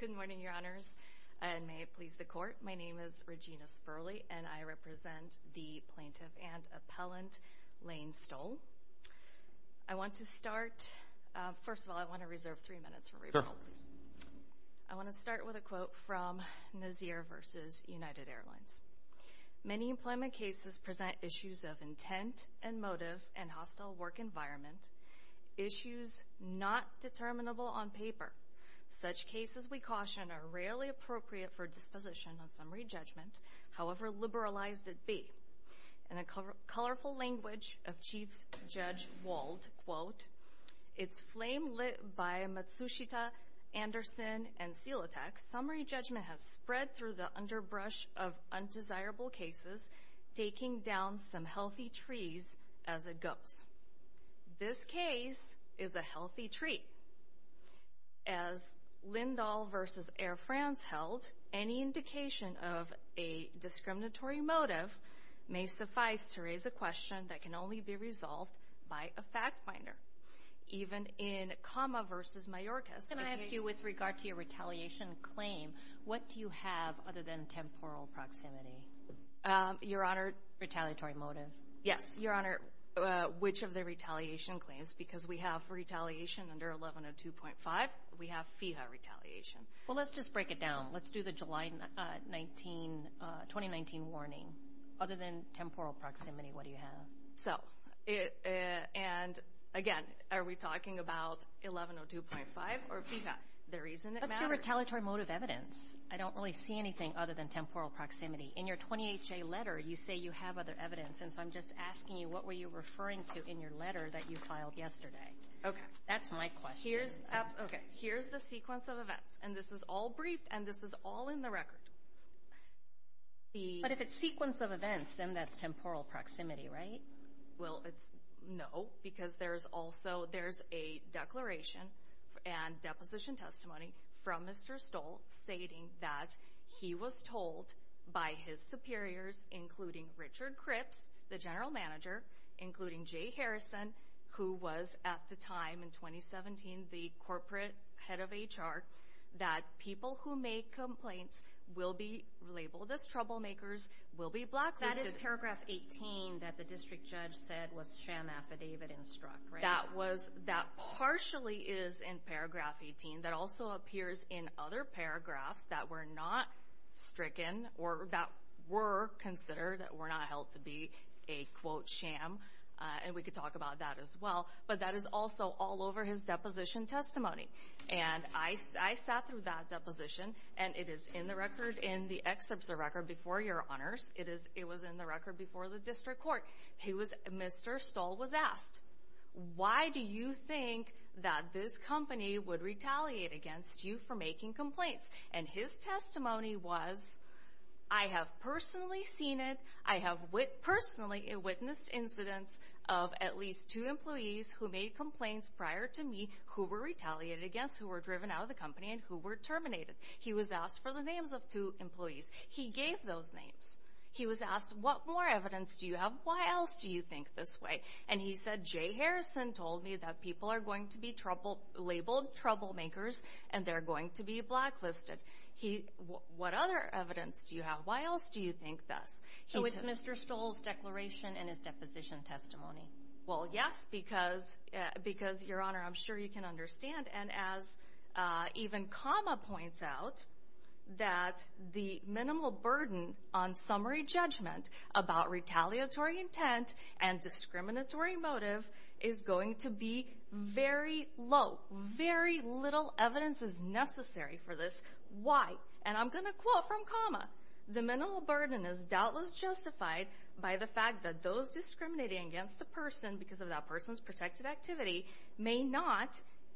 Good morning, Your Honors, and may it please the Court, my name is Regina Sperley, and I represent the Plaintiff and Appellant Lane Stoll. I want to start, first of all, I want to reserve three minutes for rebuttal, please. I want to start with a quote from Nazir v. United Airlines. Many employment cases present issues of intent and motive and hostile work environment, issues not determinable on paper. Such cases, we caution, are rarely appropriate for disposition on summary judgment, however liberalized it be. In a colorful language of Chief Judge Wald, quote, it's flame lit by Matsushita, Anderson, and Silatec, summary judgment has spread through the underbrush of undesirable cases, taking down some healthy trees as it goes. This case is a healthy tree. As Lindahl v. Air France held, any indication of a discriminatory motive may suffice to raise a question that can only be resolved by a fact finder, even in Kama v. Mayorkas. Can I ask you with regard to your retaliation claim, what do you have other than temporal proximity? Your Honor. Retaliatory motive. Yes, Your Honor, which of the retaliation claims, because we have retaliation under 1102.5, we have FIHA retaliation. Well, let's just break it down. Let's do the July 2019 warning. Other than temporal proximity, what do you have? So, and again, are we talking about 1102.5 or FIHA? The reason it matters. Let's do retaliatory motive evidence. I don't really see anything other than temporal proximity. In your 28-J letter, you say you have other evidence, and so I'm just asking you, what were you referring to in your letter that you filed yesterday? Okay. That's my question. Here's, okay, here's the sequence of events, and this is all briefed, and this is all in the record. But if it's sequence of events, then that's temporal proximity, right? Well, it's no, because there's also, there's a declaration and deposition testimony from Mr. Stoll stating that he was told by his superiors, including Richard Cripps, the general manager, including Jay Harrison, who was at the time in 2017 the corporate head of HR, that people who make complaints will be labeled as troublemakers, will be blacklisted. That is paragraph 18 that the district judge said was sham affidavit and struck, right? That was, that partially is in paragraph 18. That also appears in other paragraphs that were not stricken, or that were considered, were not held to be a quote sham, and we could talk about that as well. But that is also all over his deposition testimony. And I sat through that deposition, and it is in the record, in the excerpts of the record before your honors, it is, it was in the record before the district court. He was, Mr. Stoll was asked, why do you think that this company would retaliate against you for making complaints? And his testimony was, I have personally seen it, I have personally witnessed incidents of at least two employees who made complaints prior to me who were retaliated against, who were driven out of the company, and who were terminated. He was asked for the names of two employees. He gave those names. He was asked, what more evidence do you have? Why else do you think this way? And he said, Jay Harrison told me that people are going to be trouble, labeled troublemakers, and they're going to be blacklisted. He, what other evidence do you have? Why else do you think this? So it's Mr. Stoll's declaration in his deposition testimony. Well, yes, because, because your honor, I'm sure you can understand. And as even comma points out, that the minimal burden on summary judgment about retaliatory intent and discriminatory motive is going to be very low. Very little evidence is necessary for this. Why? And I'm going to quote from comma, the minimal burden is doubtless justified by the fact that those discriminating against a person because of that person's protected activity may not,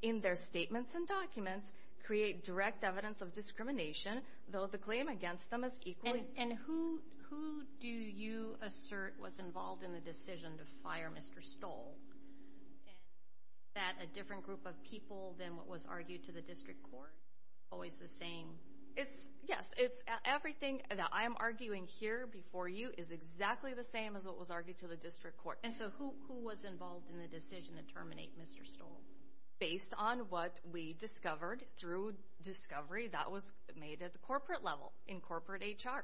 in their statements and documents, create direct evidence of discrimination, though the claim against them is equally. And who, who do you assert was involved in the decision to fire Mr. Stoll? That a different group of people than what was argued to the district court, always the same? It's, yes, it's everything that I'm arguing here before you is exactly the same as what was argued to the district court. And so who, who was involved in the decision to terminate Mr. Stoll? Based on what we discovered through discovery that was made at the corporate level in corporate HR.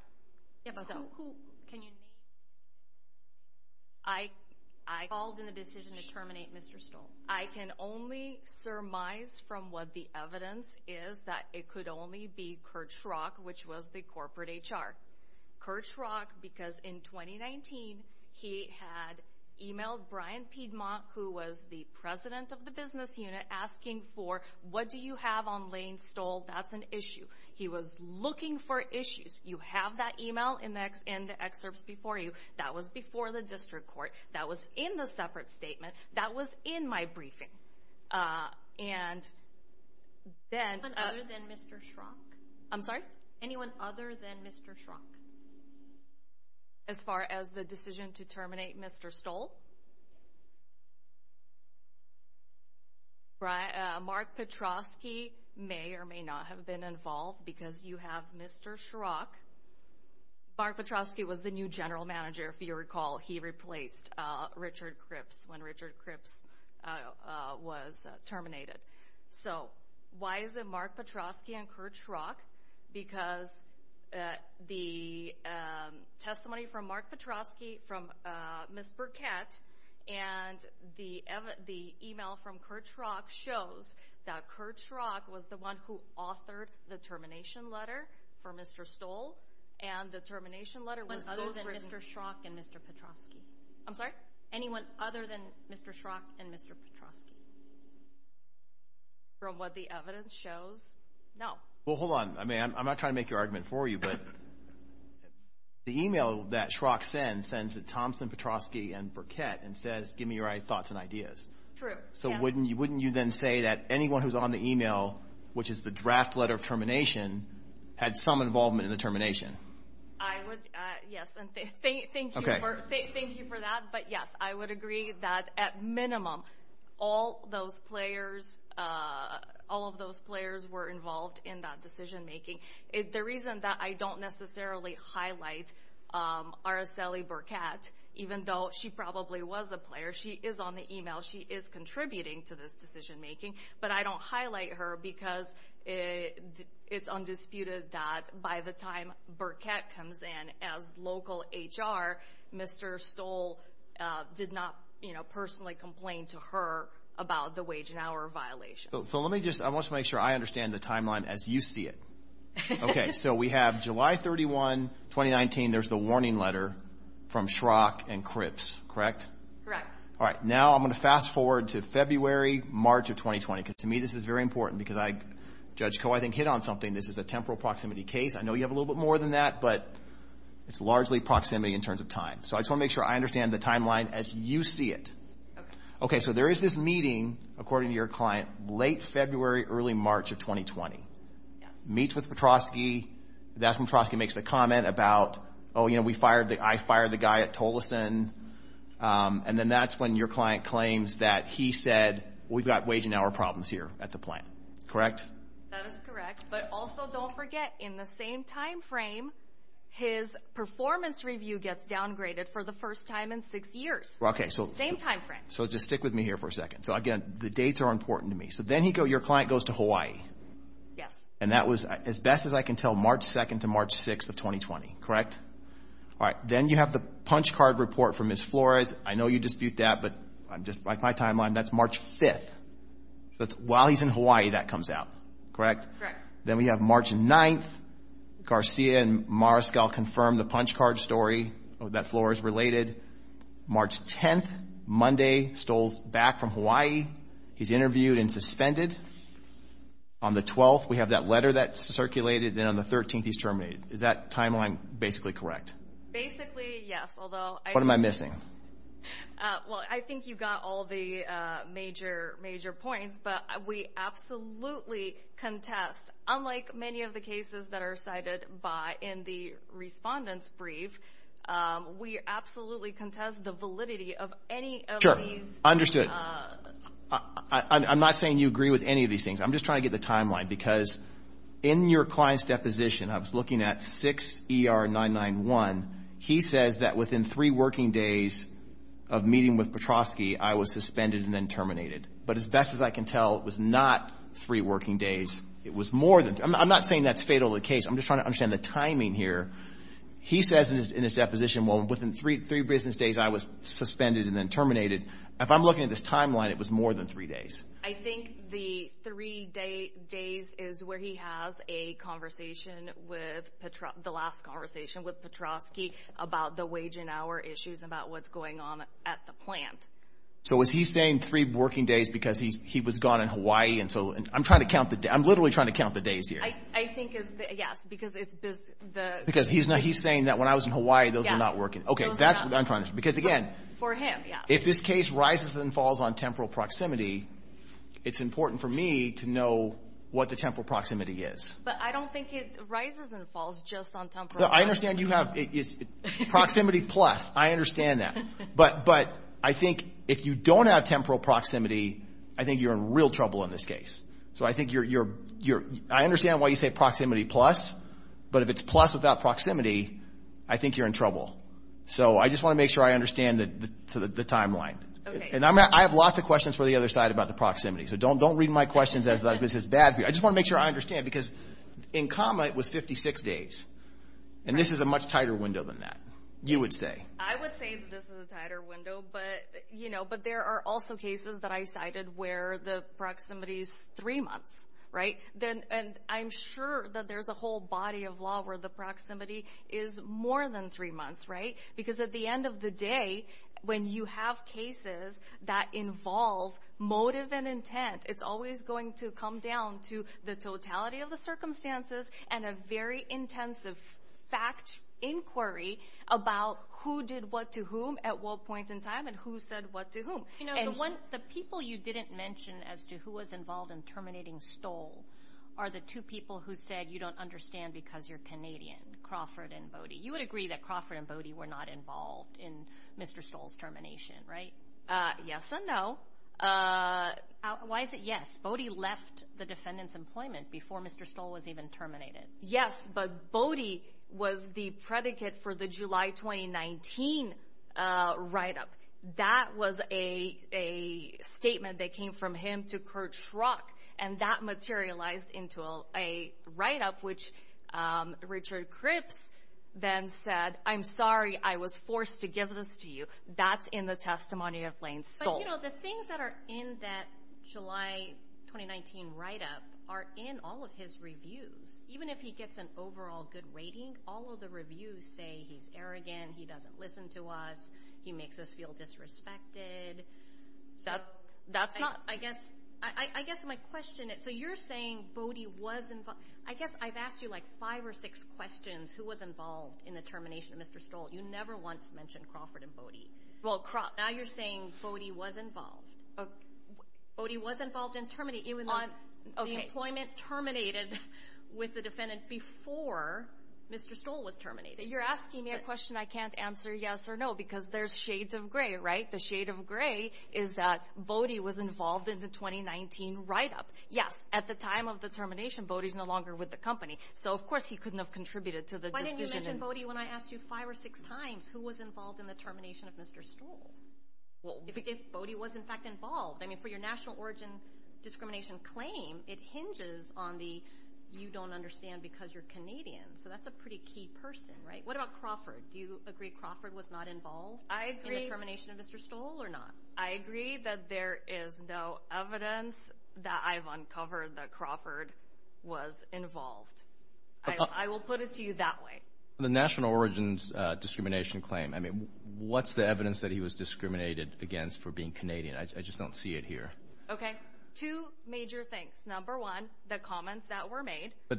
Yeah, but who, who can you name? I, I called in a decision to terminate Mr. Stoll. I can only surmise from what the evidence is that it could only be Kurt Schrock, which was the corporate HR. Kurt Schrock, because in 2019, he had emailed Brian Piedmont, who was the president of the business unit, asking for what do you have on Lane Stoll? That's an issue. He was looking for issues. You have that email in the, in the excerpts before you. That was before the district court. That was in the separate statement. That was in my briefing. And then, other than Mr. Schrock? I'm sorry? Anyone other than Mr. Schrock? As far as the decision to terminate Mr. Stoll? Brian, Mark Petrosky may or may not have been involved because you have Mr. Schrock. Mark Petrosky was the new general manager, if you recall. He replaced Richard Cripps when Richard Petrosky and Kurt Schrock, because the testimony from Mark Petrosky, from Ms. Burkett, and the email from Kurt Schrock shows that Kurt Schrock was the one who authored the termination letter for Mr. Stoll. And the termination letter was those written. Other than Mr. Schrock and Mr. Petrosky? I'm sorry? Anyone other than Mr. Schrock and Mr. Petrosky? From what the evidence shows, no. Well, hold on. I mean, I'm not trying to make your argument for you, but the email that Schrock sends sends to Thompson, Petrosky, and Burkett and says, give me your thoughts and ideas. True. So, wouldn't you, wouldn't you then say that anyone who's on the email, which is the draft letter of termination, had some involvement in the termination? I would, yes. And thank you for that. But yes, I would agree that at minimum, all those players, all of those players were involved in that decision-making. The reason that I don't necessarily highlight Araceli Burkett, even though she probably was the player, she is on the email, she is contributing to this decision-making, but I don't highlight her because it's undisputed that by the time Burkett comes in as local HR, Mr. Stoll did not, you know, personally complain to her about the wage and hour violations. So let me just, I want to make sure I understand the timeline as you see it. Okay, so we have July 31, 2019, there's the warning letter from Schrock and Cripps, correct? Correct. All right, now I'm going to fast forward to February, March of 2020, because to me, this is very important because I, Judge Koh, I think hit on something. This is a temporal proximity case. I know you have a little bit more than that, but it's largely proximity in terms of time. So I just want to make sure I understand the timeline as you see it. Okay, so there is this meeting, according to your client, late February, early March of 2020. Yes. Meets with Petrosky. That's when Petrosky makes the comment about, oh, you know, we fired the, I fired the guy at Tolleson. And then that's when your client claims that he said, we've got wage and hour problems here at the plant, correct? That is correct. But also, don't forget, in the same time frame, his performance review gets downgraded for the first time in six years. Okay, so same time frame. So just stick with me here for a second. So again, the dates are important to me. So then you go, your client goes to Hawaii. Yes. And that was as best as I can tell, March 2nd to March 6th of 2020, correct? All right. Then you have the punch card report from Ms. Flores. I know you dispute that, but I'm just, like my timeline, that's March 5th. So it's while he's in Hawaii that comes out, correct? Correct. Then we have March 9th. Garcia and Mariscal confirmed the punch card story that Flores related. March 10th, Monday, stole back from Hawaii. He's interviewed and suspended. On the 12th, we have that letter that circulated. Then on the 13th, he's terminated. Is that timeline basically correct? Basically, yes. Although... What am I missing? Well, I think you got all the major points, but we absolutely contest, unlike many of the cases that are cited by in the respondent's brief, we absolutely contest the validity of any of these... Sure, understood. I'm not saying you agree with any of these things. I'm just trying to get the timeline because in your client's deposition, I was looking at 6ER991. He says that within three working days of meeting with Petrosky, I was suspended and then terminated. But as best as I can tell, it was not three working days. It was more than... I'm not saying that's fatal to the case. I'm just trying to understand the timing here. He says in his deposition, well, within three business days, I was suspended and then terminated. If I'm looking at this timeline, it was more than three days. I think the three days is where he has a conversation with Petrosky, the last conversation with Petrosky about the wage and hour issues, about what's going on at the plant. So is he saying three working days because he was gone in Hawaii? I'm trying to count the... I'm literally trying to count the days here. I think it's... Yes, because it's... Because he's saying that when I was in Hawaii, those were not working. Okay, that's what I'm trying to... Because again... For him, yes. If this case rises and falls on temporal proximity, it's important for me to know what the temporal proximity is. But I don't think it rises and falls just on temporal proximity. I understand you have... Proximity plus, I understand that. But I think if you don't have temporal proximity, I think you're in real trouble in this case. So I think you're... I understand why you say proximity plus, but if it's plus without proximity, I think you're in trouble. So I just want to make sure I understand the timeline. Okay. And I have lots of questions for the other side about the proximity. So don't read my questions as though this is bad for you. I just want to make sure I understand because in comma, it was 56 days. And this is a much tighter window than that, you would say. I would say that this is a tighter window, but there are also cases that I cited where the proximity is three months, right? And I'm sure that there's a whole body of law where the proximity is more than three months, right? Because at the end of the day, when you have cases that involve motive and intent, it's always going to come down to the totality of the circumstances and a very intensive fact inquiry about who did what to whom at what point in time and who said what to whom. The people you didn't mention as to who was involved in terminating Stoll are the two people who said you don't understand because you're Canadian, Crawford and Bodie. You would agree that Crawford and Bodie were not involved in Mr. Stoll's termination, right? Yes and no. Why is it yes? Bodie left the defendant's employment before Mr. Stoll was even terminated. Yes, but Bodie was the predicate for the July 2019 write-up. That was a statement that came from him to Kurt Schrock and that materialized into a write-up which Richard Cripps then said, I'm sorry I was forced to give this to you. That's in the testimony of Lane Stoll. But you know the things that are in that July 2019 write-up are in all of his reviews. Even if he gets an overall good rating, all of the reviews say he's arrogant, he doesn't listen to us, he makes us feel disrespected. So that's not... I guess my question is, so you're saying Bodie was involved. I guess I've asked you like five or six questions who was involved in the termination of Mr. Stoll. You never once mentioned Crawford and Bodie. Well, now you're saying Bodie was involved. Bodie was involved in terminating even though the employment terminated with the defendant before Mr. Stoll was terminated. You're asking me a question I can't answer yes or no because there's shades of gray, right? The shade of gray is that Bodie was involved in the 2019 write-up. Yes, at the time of the termination, Bodie's no longer with the company. So of course he couldn't have contributed to the decision. Why didn't you mention Bodie when I asked you five or six times who was involved in the termination of Mr. Stoll? Well, if Bodie was in fact involved. I mean for your national origin discrimination claim, it hinges on the you don't understand because you're Canadian. So that's a pretty key person, right? What about Crawford? Do you agree Crawford was not involved in the termination of Mr. Stoll or not? I agree that there is no evidence that I've uncovered that Crawford was involved. I will put it to you that way. The national origins discrimination claim, I mean what's the evidence that he was discriminated against for being Canadian? I just don't see it here. Okay, two major things. Number one, the comments that were made. But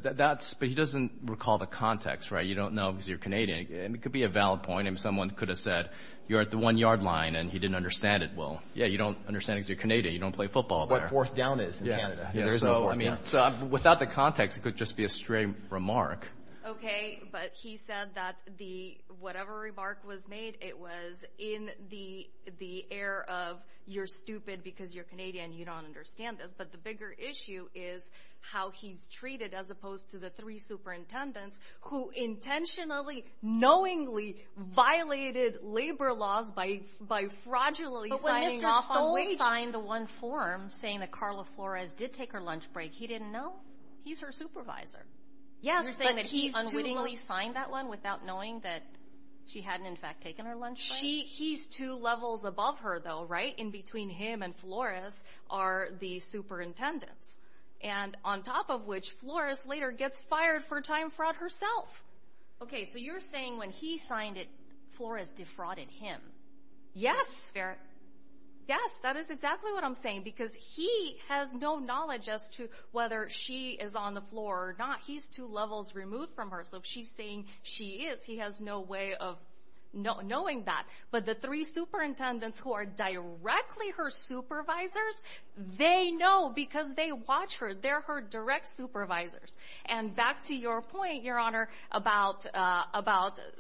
he doesn't recall the context, right? You don't know because you're Canadian. It could be a valid point and someone could have said, you're at the one yard line and he didn't understand it. Well, yeah, you don't understand because you're Canadian. You don't play football there. What fourth down is in Canada. So I mean, so without the context, it could just be a stray remark. Okay, but he said that the whatever remark was made, it was in the air of you're stupid because you're Canadian. You don't understand this. But the bigger issue is how he's treated as opposed to the three superintendents who intentionally, knowingly violated labor laws by fraudulently signing off on wage. But when Mr. Stoll signed the one form saying that Carla Flores did take her lunch break, he didn't know. He's her supervisor. You're saying that he unwittingly signed that one without knowing that she hadn't in fact taken her lunch break? He's two levels above her though, right? In between him and Flores are the superintendents. And on top of which, Flores later gets fired for time fraud herself. Okay, so you're saying when he signed it, Flores defrauded him? Yes. Yes, that is exactly what I'm saying because he has no knowledge as to whether she is on the floor or not. He's two levels removed from her. So if she's saying she is, he has no way of knowing that. But the three superintendents who are directly her supervisors, they know because they watch her. They're her direct supervisors. And back to your point, Your Honor, about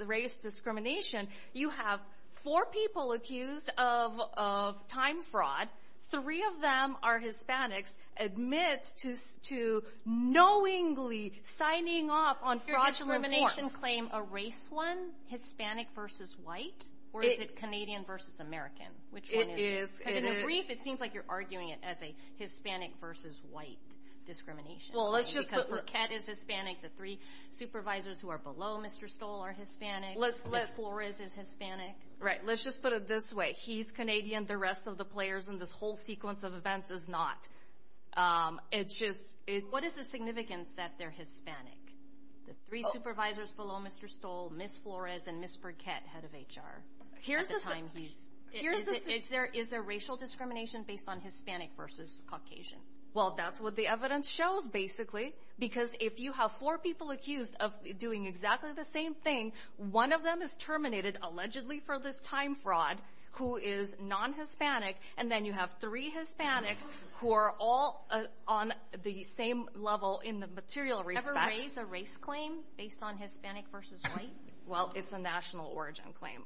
race discrimination, you have four people accused of time fraud. Three of them are Hispanics admit to knowingly signing off on fraudulent forms. Does your discrimination claim a race one, Hispanic versus white? Or is it Canadian versus American? Which one is it? Because in the brief, it seems like you're arguing it as a Hispanic versus white discrimination. Because Burkett is Hispanic. The three supervisors who are below Mr. Stoll are Hispanic. Ms. Flores is Hispanic. Right. Let's just put it this way. He's Canadian. The rest of the players in this whole sequence of events is not. What is the significance that they're Hispanic? The three supervisors below Mr. Stoll, Ms. Flores and Ms. Burkett, head of HR, is there racial discrimination based on Hispanic versus Caucasian? Well, that's what the evidence shows, basically. Because if you have four people accused of doing exactly the same thing, one of them is terminated, allegedly for this time fraud, who is non-Hispanic. And then you have three Hispanics who are all on the same level in the material respect. Ever raise a race claim based on Hispanic versus white? Well, it's a national origin claim.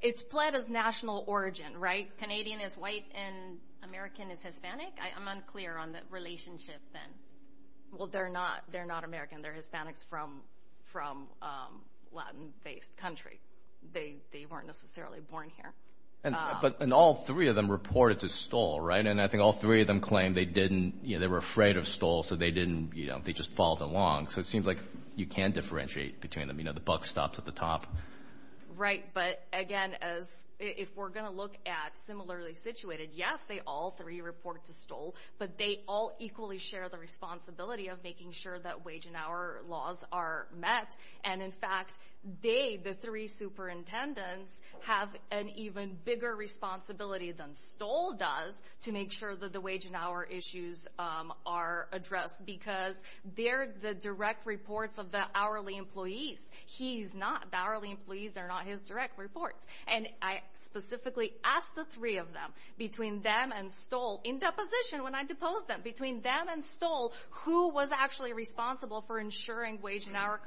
It's pled as national origin, right? Canadian is white and American is Hispanic? I'm unclear on the relationship then. Well, they're not American. They're Hispanics from Latin-based country. They weren't necessarily born here. And all three of them reported to Stoll, right? And I think all three of them claimed they were afraid of Stoll, so they just followed along. So it seems like you can differentiate between them. You know, the buck stops at the top. Right. But again, if we're going to look at similarly situated, yes, they all three report to Stoll, but they all equally share the responsibility of making sure that wage and hour laws are met. And in fact, they, the three superintendents, have an even bigger responsibility than Stoll does to make sure that the wage and hour issues are addressed, because they're the direct reports of the hourly employees. He's not. The hourly employees, they're not his direct reports. And I specifically asked the three of them, between them and Stoll, in deposition when I deposed them, between them and Stoll, who was actually responsible for ensuring wage and hour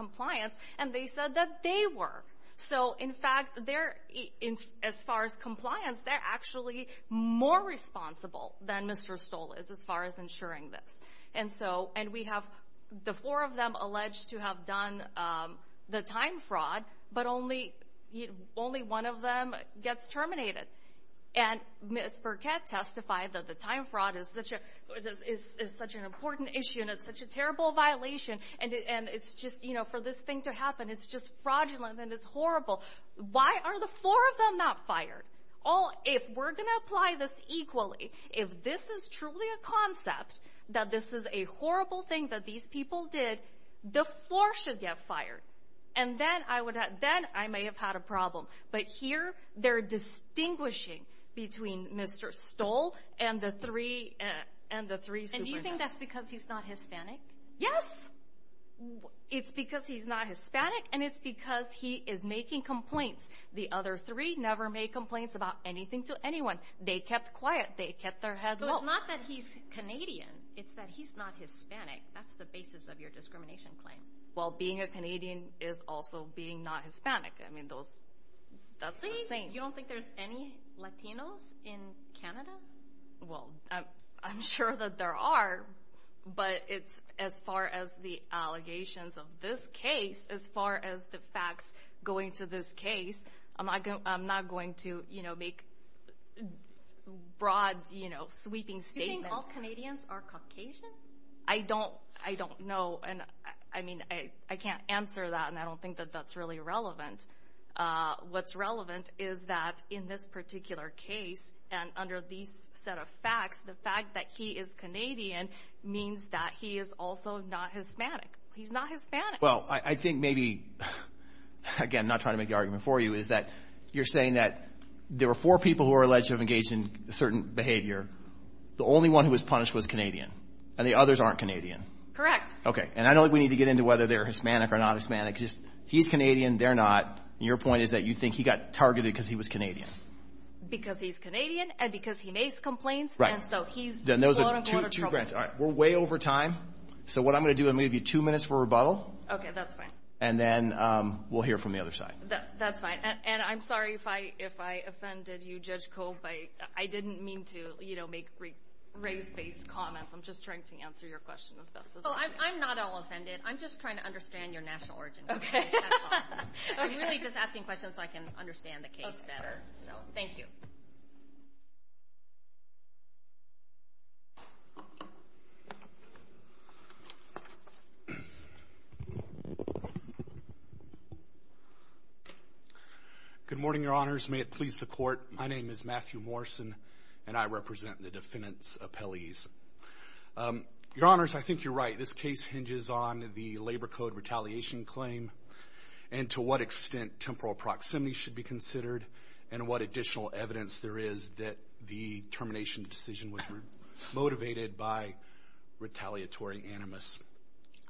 more responsible than Mr. Stoll is, as far as ensuring this. And so, and we have the four of them alleged to have done the time fraud, but only one of them gets terminated. And Ms. Burkett testified that the time fraud is such an important issue and it's such a terrible violation. And it's just, you know, for this thing to happen, it's just fraudulent and it's horrible. Why are the four of them not fired? All, if we're going to apply this equally, if this is truly a concept, that this is a horrible thing that these people did, the four should get fired. And then I would have, then I may have had a problem. But here, they're distinguishing between Mr. Stoll and the three, and the three superintendents. And you think that's because he's not Hispanic? Yes. It's because he's not Hispanic and it's because he is making complaints. The other three never made complaints about anything to anyone. They kept quiet. They kept their head low. So it's not that he's Canadian. It's that he's not Hispanic. That's the basis of your discrimination claim. Well, being a Canadian is also being not Hispanic. I mean, those, that's the same. You don't think there's any Latinos in Canada? Well, I'm sure that there are, but it's as far as the allegations of this case, as far as the facts going to this case, I'm not going to, you know, make broad, you know, sweeping statements. You think all Canadians are Caucasian? I don't, I don't know. And I mean, I can't answer that. And I don't think that that's really relevant. What's relevant is that in this particular case and under these set of facts, the fact that he is Canadian means that he is also not Hispanic. He's not Hispanic. Well, I think maybe, again, not trying to make the argument for you, is that you're saying that there were four people who are alleged to have engaged in certain behavior. The only one who was punished was Canadian and the others aren't Canadian. Correct. Okay. And I don't think we need to get into whether they're Hispanic or not Hispanic. Just he's Canadian. They're not. And your point is that you think he got targeted because he was Canadian. Because he's Canadian and because he makes complaints. Right. And so he's- Then those are two grants. All right. We're way over time. So what I'm going to do, I'm going to give you two minutes for rebuttal. Okay. That's fine. And then we'll hear from the other side. That's fine. And I'm sorry if I offended you, Judge Cope. I didn't mean to, you know, make race-based comments. I'm just trying to answer your question as best as I can. I'm not all offended. I'm just trying to understand your national origin. Okay. I'm really just asking questions so I can understand the case better. Thank you. Good morning, your honors. May it please the court. My name is Matthew Morrison and I represent the defendant's appellees. Your honors, I think you're right. This case hinges on the labor code retaliation claim and to what extent temporal proximity should be considered. And what additional evidence there is that the termination decision was motivated by retaliatory animus.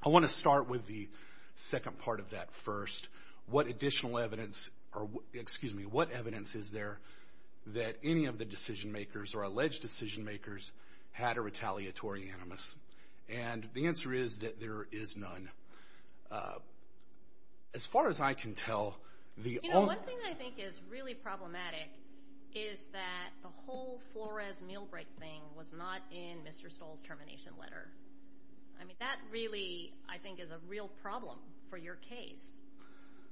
I want to start with the second part of that first. What additional evidence, or excuse me, what evidence is there that any of the decision makers or alleged decision makers had a retaliatory animus? And the answer is that there is none. As far as I can tell- You know, one thing I think is really problematic is that the whole Flores meal break thing was not in Mr. Stoll's termination letter. I mean, that really, I think, is a real problem for your case.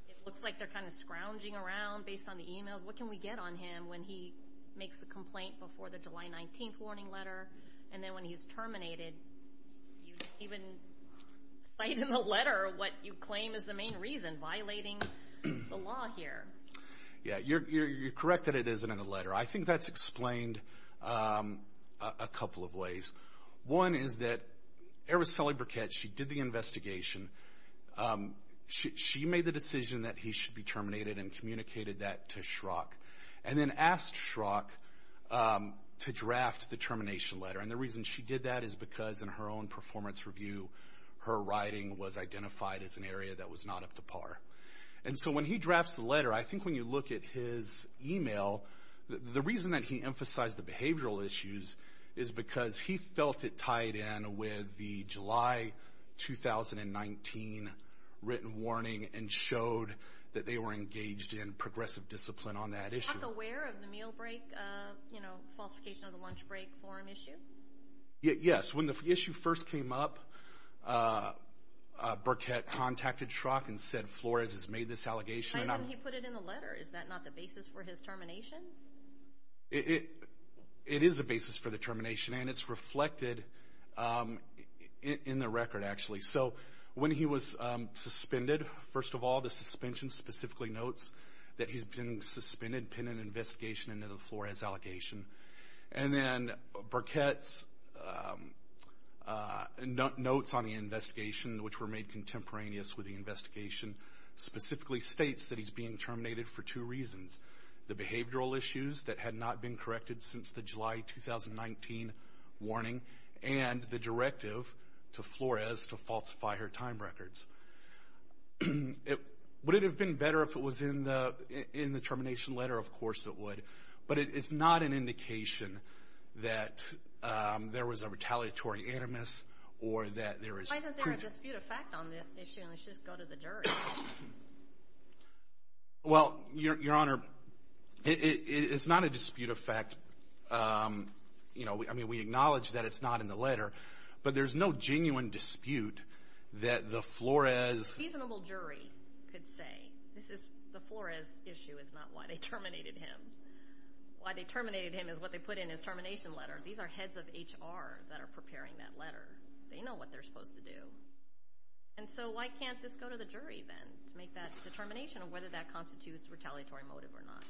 It looks like they're kind of scrounging around based on the emails. What can we get on him when he makes the complaint before the July 19th warning letter? And then when he's terminated, you didn't even cite in the letter what you claim is the main reason, violating the law here. Yeah, you're correct that it isn't in the letter. I think that's explained a couple of ways. One is that Araceli Burkett, she did the investigation. She made the decision that he should be terminated and communicated that to Schrock, and then asked Schrock to draft the termination letter. And the reason she did that is because in her own performance review, her writing was identified as an area that was not up to par. And so when he drafts the letter, I think when you look at his email, the reason that he emphasized the behavioral issues is because he felt it tied in with the July 2019 written warning and showed that they were engaged in progressive discipline on that issue. Is Schrock aware of the meal break, falsification of the lunch break for an issue? Yes. When the issue first came up, Burkett contacted Schrock and said, Flores has made this allegation. But then he put it in the letter. Is that not the basis for his termination? It is the basis for the termination, and it's reflected in the record, actually. So when he was suspended, first of all, the suspension specifically notes that he's been suspended pending investigation into the Flores allegation. And then Burkett's notes on the investigation, which were made contemporaneous with the investigation, specifically states that he's being terminated for two reasons. The behavioral issues that had not been corrected since the July 2019 warning and the directive to Flores to falsify her time records. Would it have been better if it was in the termination letter? Of course it would. But it's not an indication that there was a retaliatory animus or that there is... Why is there a dispute of fact on this issue? Let's just go to the jury. Well, Your Honor, it's not a dispute of fact. We acknowledge that it's not in the letter, but there's no genuine dispute that the Flores... A reasonable jury could say, the Flores issue is not why they terminated him. Why they terminated him is what they put in his termination letter. These are heads of HR that are preparing that letter. They know what they're supposed to do. And so why can't this go to the jury then to make that determination of whether that constitutes retaliatory motive or not?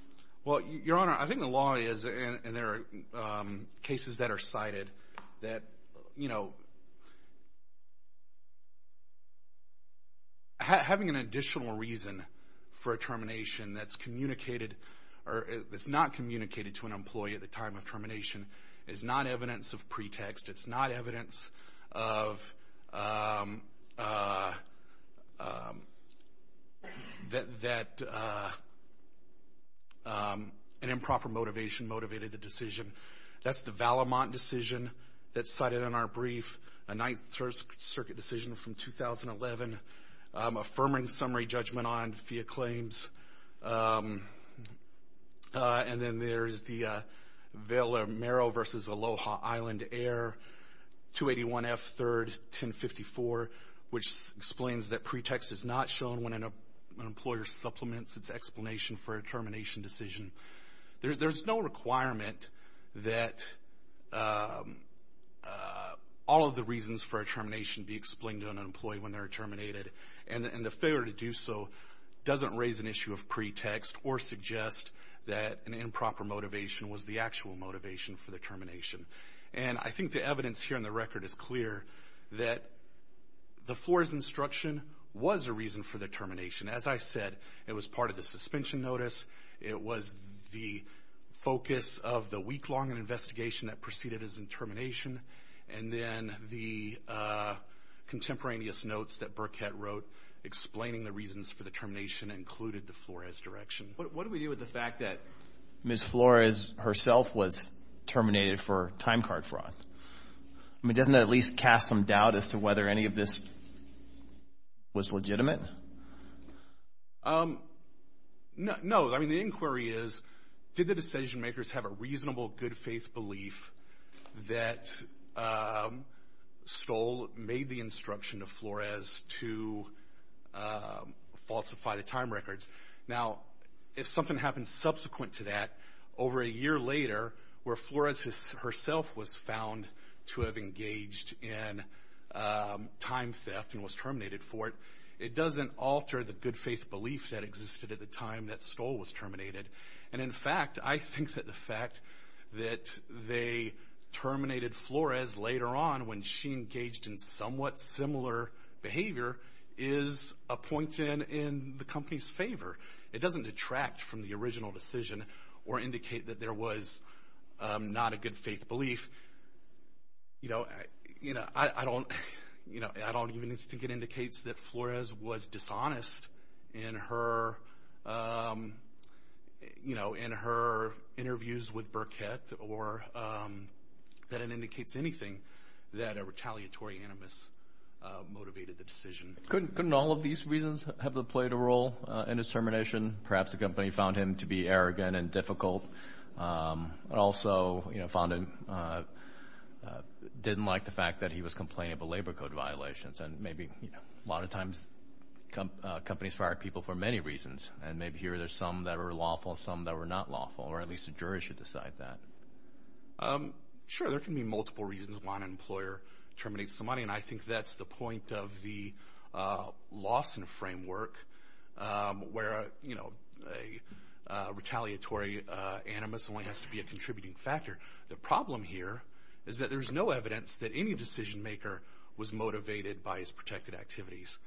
Well, Your Honor, I think the law is, and there are cases that are cited, that having an additional reason for a termination that's not communicated to an employee at the time of termination is not evidence of pretext. It's not evidence that an improper motivation motivated the decision. That's the Valamont decision that's cited in our brief, a Ninth Circuit decision from 2011, affirming summary judgment on FIA claims. And then there's the Merrill v. Aloha Island Air, 281 F. 3rd, 1054, which explains that pretext is not shown when an employer supplements its explanation for a termination decision. There's no requirement that all of the reasons for a termination be explained to an employee when they're terminated. And the failure to do so doesn't raise an issue of pretext or suggest that an improper motivation was the actual motivation for the termination. And I think the evidence here in the record is clear that the Flores instruction was a reason for the termination. As I said, it was part of the suspension notice. It was the focus of the notes that Burkett wrote explaining the reasons for the termination included the Flores direction. But what do we do with the fact that Ms. Flores herself was terminated for time card fraud? I mean, doesn't that at least cast some doubt as to whether any of this was legitimate? No. I mean, the inquiry is, did the decision makers have a reasonable good faith belief that Stoll made the instruction to Flores to falsify the time records? Now, if something happens subsequent to that, over a year later, where Flores herself was found to have engaged in time theft and was terminated for it, it doesn't alter the good faith belief that existed at the terminated Flores later on when she engaged in somewhat similar behavior is a point in the company's favor. It doesn't detract from the original decision or indicate that there was not a good faith belief. I don't even think it indicates that Flores was dishonest in her um, you know, in her interviews with Burkett or that it indicates anything that a retaliatory animus motivated the decision. Couldn't all of these reasons have played a role in his termination? Perhaps the company found him to be arrogant and difficult. Also, you know, found him, didn't like the fact that he was complaining of labor code violations. And maybe, you know, a lot of times companies fire people for many reasons. And maybe here there's some that are lawful, some that were not lawful, or at least the jury should decide that. Um, sure, there can be multiple reasons why an employer terminates the money. And I think that's the point of the Lawson framework, where, you know, a retaliatory animus only has to be a contributing factor. The problem here is that there's no evidence that any decision maker was motivated by his protected activities.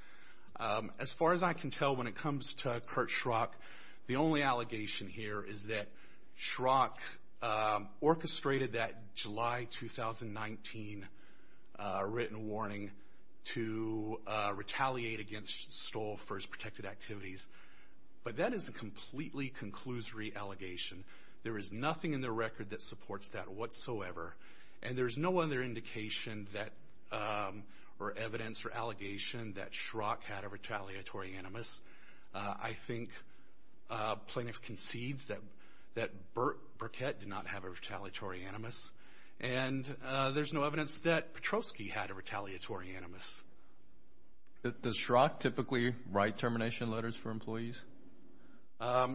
As far as I can tell, when it comes to Kurt Schrock, the only allegation here is that Schrock orchestrated that July 2019 written warning to retaliate against Stoll for his protected activities. But that is a completely conclusory allegation. There is nothing in the record that supports that whatsoever. And there's no other indication or evidence or allegation that Schrock had a retaliatory animus. I think plaintiff concedes that Burkett did not have a retaliatory animus. And there's no evidence that Petrosky had a retaliatory animus. Does Schrock typically write termination letters for employees?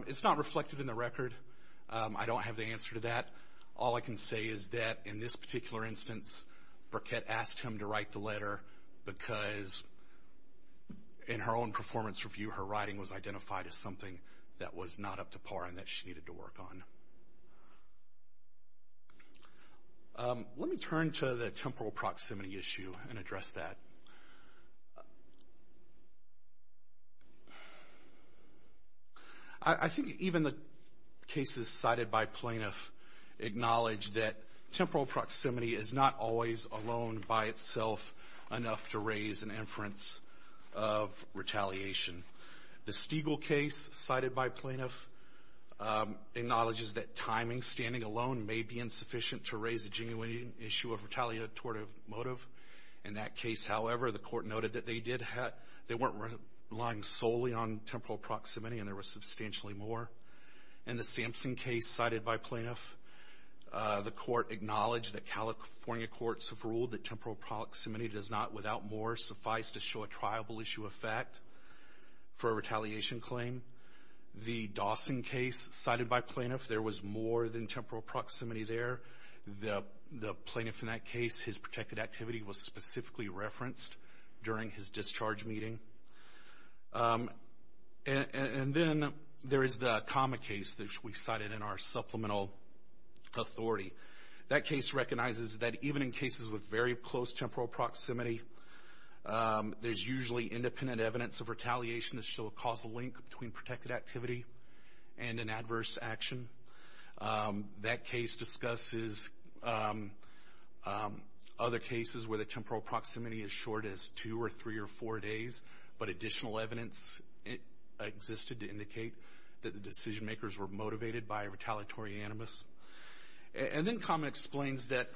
It's not reflected in the record. I don't have the answer to that. All I can say is that in this particular instance, Burkett asked him to write the letter because in her own performance review, her writing was identified as something that was not up to par and that she needed to work on. Let me turn to the temporal proximity issue and address that. I think even the cases cited by plaintiff acknowledge that temporal proximity is not always alone by itself enough to raise an inference of retaliation. The Stiegel case cited by plaintiff acknowledges that timing standing alone may be insufficient to raise a genuine issue of retaliatory motive. In that case, however, the court noted that they weren't relying solely on temporal proximity and there was substantially more. In the Sampson case cited by plaintiff, the court acknowledged that California courts have ruled that temporal proximity does not, without more, suffice to show a triable issue of fact for a retaliation claim. The Dawson case cited by plaintiff, there was more than temporal proximity there. The plaintiff in that case, his protected activity was specifically referenced during his discharge meeting. And then there is the Kama case that we cited in our supplemental authority. That case recognizes that even in cases with very close temporal proximity, there's usually independent evidence of retaliation to show a causal link between protected activity and an adverse action. That case discusses other cases where the temporal proximity is short as two or three or four days, but additional evidence existed to indicate that the decision makers were motivated by a retaliatory animus. And then Kama explains that,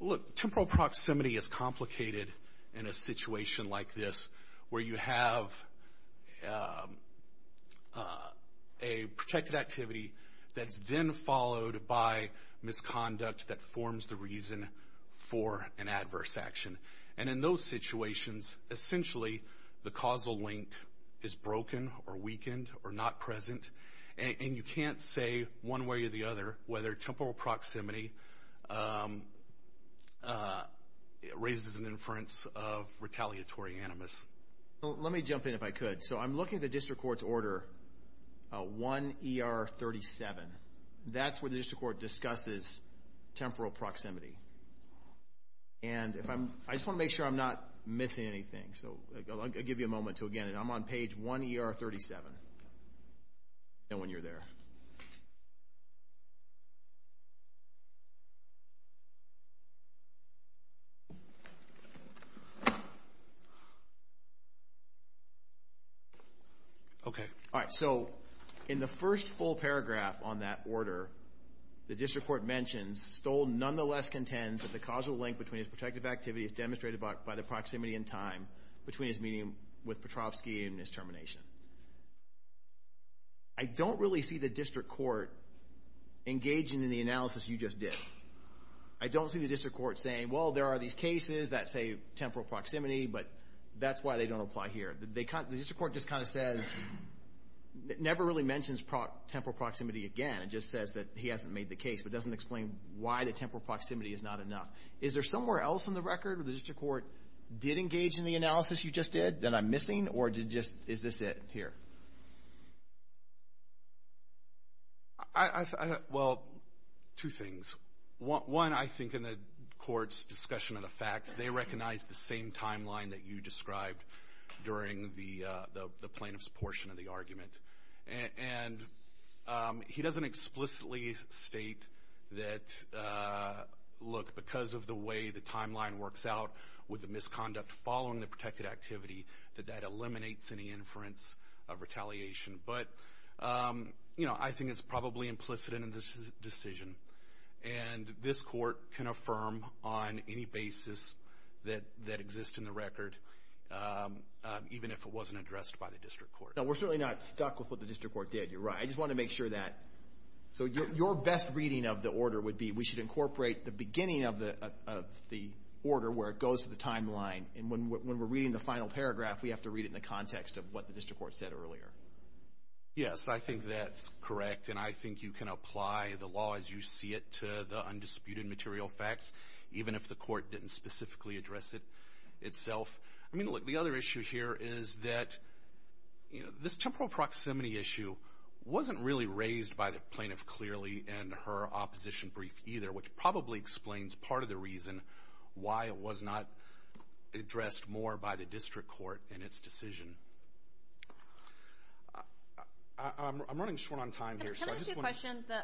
look, temporal proximity is complicated in a situation like this where you have a protected activity that's then followed by misconduct that forms the reason for an adverse action. And in those situations, essentially, the causal link is broken or weakened or not present. And you can't say one way or the other whether temporal proximity raises an inference of retaliatory animus. Let me jump in if I could. So I'm looking at the district court's order 1 ER 37. That's where the district court discusses temporal proximity. And if I'm, I just want to make sure I'm not missing anything. So I'll give you a moment to again, and I'm on page 1 ER 37. And when you're there. Okay. All right. So in the first full paragraph on that order, the district court mentions Stoll nonetheless contends that the causal link between his protective activity is demonstrated by the time between his meeting with Petrovsky and his termination. I don't really see the district court engaging in the analysis you just did. I don't see the district court saying, well, there are these cases that say temporal proximity, but that's why they don't apply here. The district court just kind of says, never really mentions temporal proximity again. It just says that he hasn't made the case, but doesn't explain why the temporal proximity is not enough. Is there somewhere else in the did engage in the analysis you just did that I'm missing or did just, is this it here? Well, two things. One, I think in the court's discussion of the facts, they recognize the same timeline that you described during the plaintiff's portion of the argument. And he doesn't explicitly state that, look, because of the way the timeline works out with the misconduct following the protected activity, that that eliminates any inference of retaliation. But, you know, I think it's probably implicit in this decision. And this court can affirm on any basis that exists in the record, even if it wasn't addressed by the district court. Now, we're certainly not stuck with what the district court did. You're right. I just want to make sure that, so your best reading of the order would be we should incorporate the beginning of the order where it goes to the timeline. And when we're reading the final paragraph, we have to read it in the context of what the district court said earlier. Yes, I think that's correct. And I think you can apply the law as you see it to the undisputed material facts, even if the court didn't specifically address it itself. I mean, look, the other issue here is that, you know, this temporal proximity issue wasn't really raised by the plaintiff clearly in her opposition brief either, which probably explains part of the reason why it was not addressed more by the district court in its decision. I'm running short on time here. Can I just ask you a question? The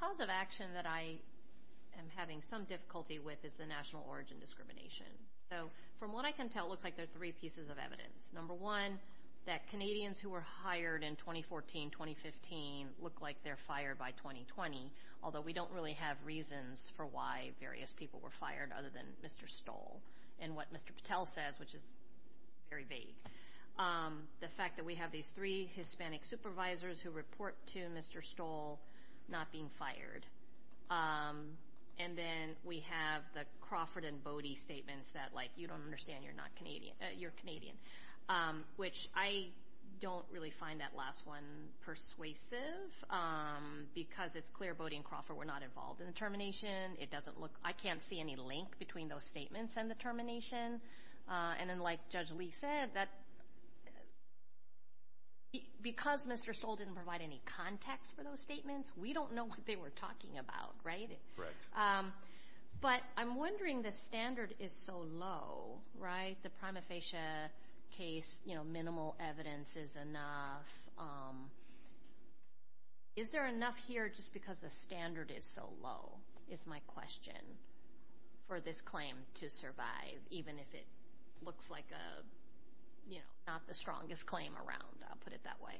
cause of action that I am having some difficulty with is the national origin discrimination. So from what I can tell, it looks like there are three pieces of evidence. Number one, that Canadians who were hired in 2014, 2015 look like they're fired by 2020, although we don't really have reasons for why various people were fired other than Mr. Stoll and what Mr. Patel says, which is very vague. The fact that we have these three Hispanic supervisors who report to Mr. Stoll not being fired. And then we have the Crawford and Bodie statements that, like, you don't understand you're not Canadian, you're Canadian, which I don't really find that last one persuasive because it's clear Bodie and Crawford were not involved in the termination. It doesn't look, I can't see any link between those statements and the termination. And then, like Judge Lee said, that because Mr. Stoll didn't provide any context for those statements, we don't know what they were talking about, right? But I'm wondering the standard is so low, right? The prima facie case, you know, minimal evidence is enough. Is there enough here just because the standard is so low, is my question, for this claim to survive, even if it looks like a, you know, not the strongest claim around, I'll put it that way.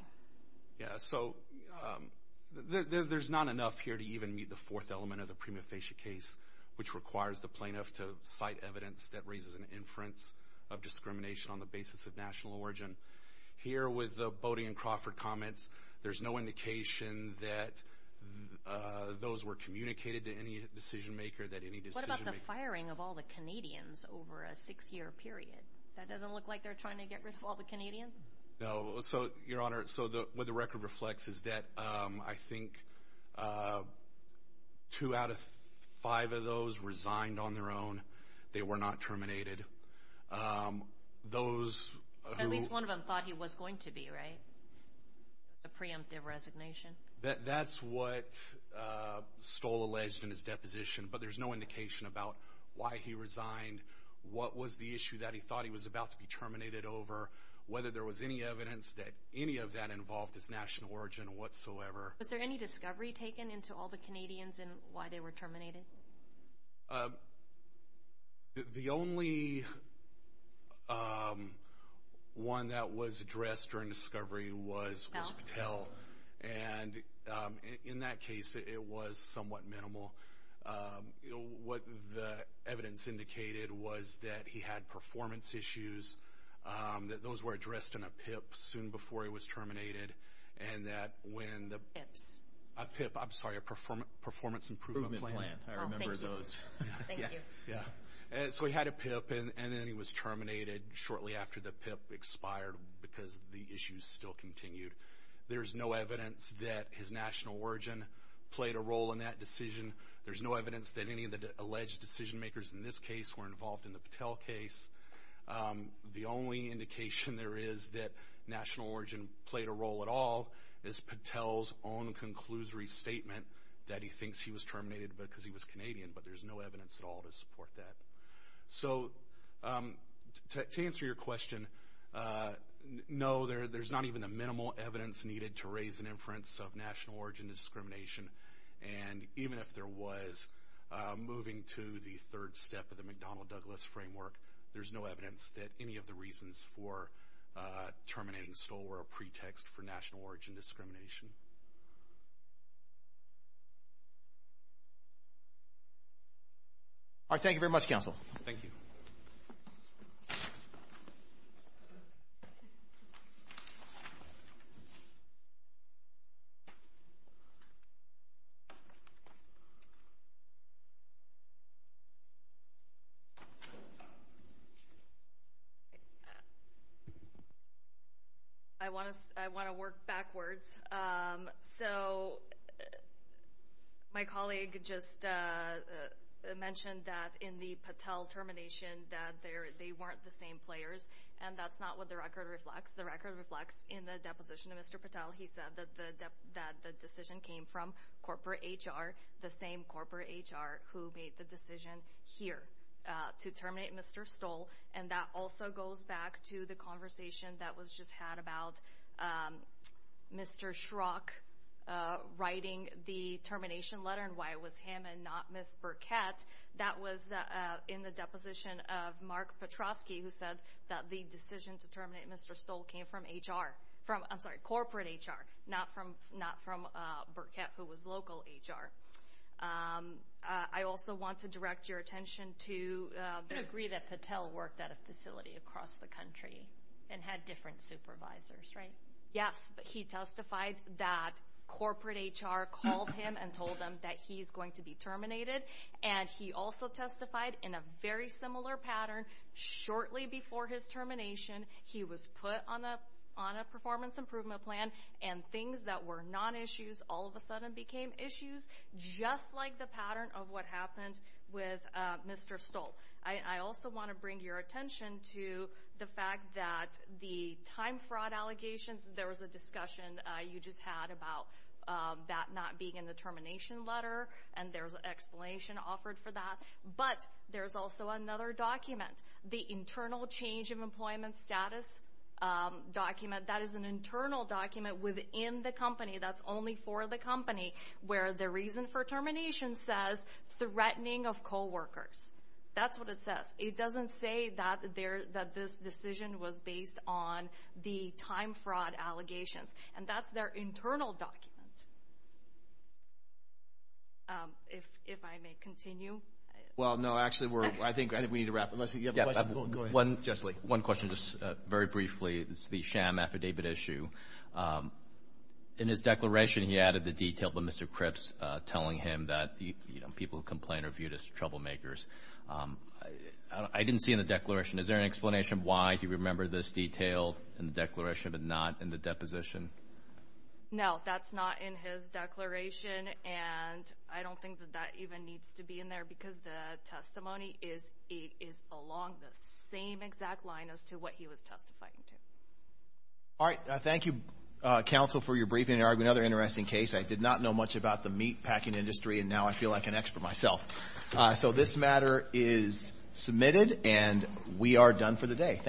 Yeah, so there's not enough here to even meet the fourth element of the prima facie case, which requires the plaintiff to cite evidence that raises an inference of discrimination on the basis of national origin. Here with the Bodie and Crawford comments, there's no indication that those were communicated to any decision maker that any decision- What about the firing of all the Canadians over a six-year period? That doesn't look like they're trying to get rid of all the on their own. They were not terminated. Those who- At least one of them thought he was going to be, right? A preemptive resignation. That's what Stoll alleged in his deposition, but there's no indication about why he resigned, what was the issue that he thought he was about to be terminated over, whether there was any evidence that any of that involved his national origin whatsoever. Was there any discovery taken into all the Canadians and why they were terminated? Well, the only one that was addressed during discovery was Patel, and in that case, it was somewhat minimal. What the evidence indicated was that he had performance issues, that those were addressed in a PIP soon before he was terminated, and that when the- PIPs. A PIP, I'm sorry, Performance Improvement Plan. Improvement Plan. I remember those. Thank you. So he had a PIP, and then he was terminated shortly after the PIP expired because the issues still continued. There's no evidence that his national origin played a role in that decision. There's no evidence that any of the alleged decision-makers in this case were involved in the Patel case. The only indication there is that national origin played a role at all is Patel's own conclusory statement that he thinks he was terminated because he was Canadian, but there's no evidence at all to support that. So to answer your question, no, there's not even the minimal evidence needed to raise an inference of national origin discrimination, and even if there was, moving to the third step of the McDonnell-Douglas framework, there's no evidence that any of the reasons for terminating Stoll were a pretext for national origin discrimination. All right. Thank you very much, counsel. Thank you. I want to work backwards. So my colleague just mentioned that in the Patel termination that they weren't the same players, and that's not what the record reflects. The record reflects in the deposition of Mr. Patel. He said that the decision came from corporate HR, the same corporate HR who made the decision here to terminate Mr. Stoll, and that also goes back to the conversation that was just had about Mr. Schrock writing the termination letter and why it was him and not Ms. Burkett. That was in the deposition of Mark Petroski, who said that the decision to terminate Mr. Stoll came from HR, I'm sorry, corporate HR, not from Burkett, who was local HR. I also want to direct your attention to the degree that Patel worked at a facility across the country and had different supervisors, right? Yes, but he testified that corporate HR called him and told him that he's going to be terminated, and he also testified in a very similar pattern. Shortly before his termination, he was put on a performance improvement plan, and things that were non-issues all of a sudden became issues, just like the pattern of what happened with Mr. Stoll. I also want to bring your attention to the fact that the time fraud allegations, there was a discussion you just had about that not being in the termination letter, and there's an explanation offered for that, but there's also another document, the internal change of employment status document. That is an internal document within the company that's only for the company, where the reason for termination says threatening of coworkers. That's what it says. It doesn't say that this decision was based on the time fraud allegations, and that's their internal document. If I may continue. Well, no, actually, I think we need to wrap unless you have a question. Go ahead. Just one question, just very briefly. It's the sham affidavit issue. In his declaration, he added the detail of Mr. Cripps telling him that people who complain are viewed as troublemakers. I didn't see in the declaration. Is there an explanation why he remembered this detail in the declaration but not in the deposition? No, that's not in his declaration, and I don't think that that even needs to be in there because the testimony is along the same exact line as to what he was testifying to. All right. Thank you, counsel, for your briefing. I have another interesting case. I did not know much about the meat packing industry, and now I feel like an expert myself. So this matter is submitted, and we are done for today. Thank you.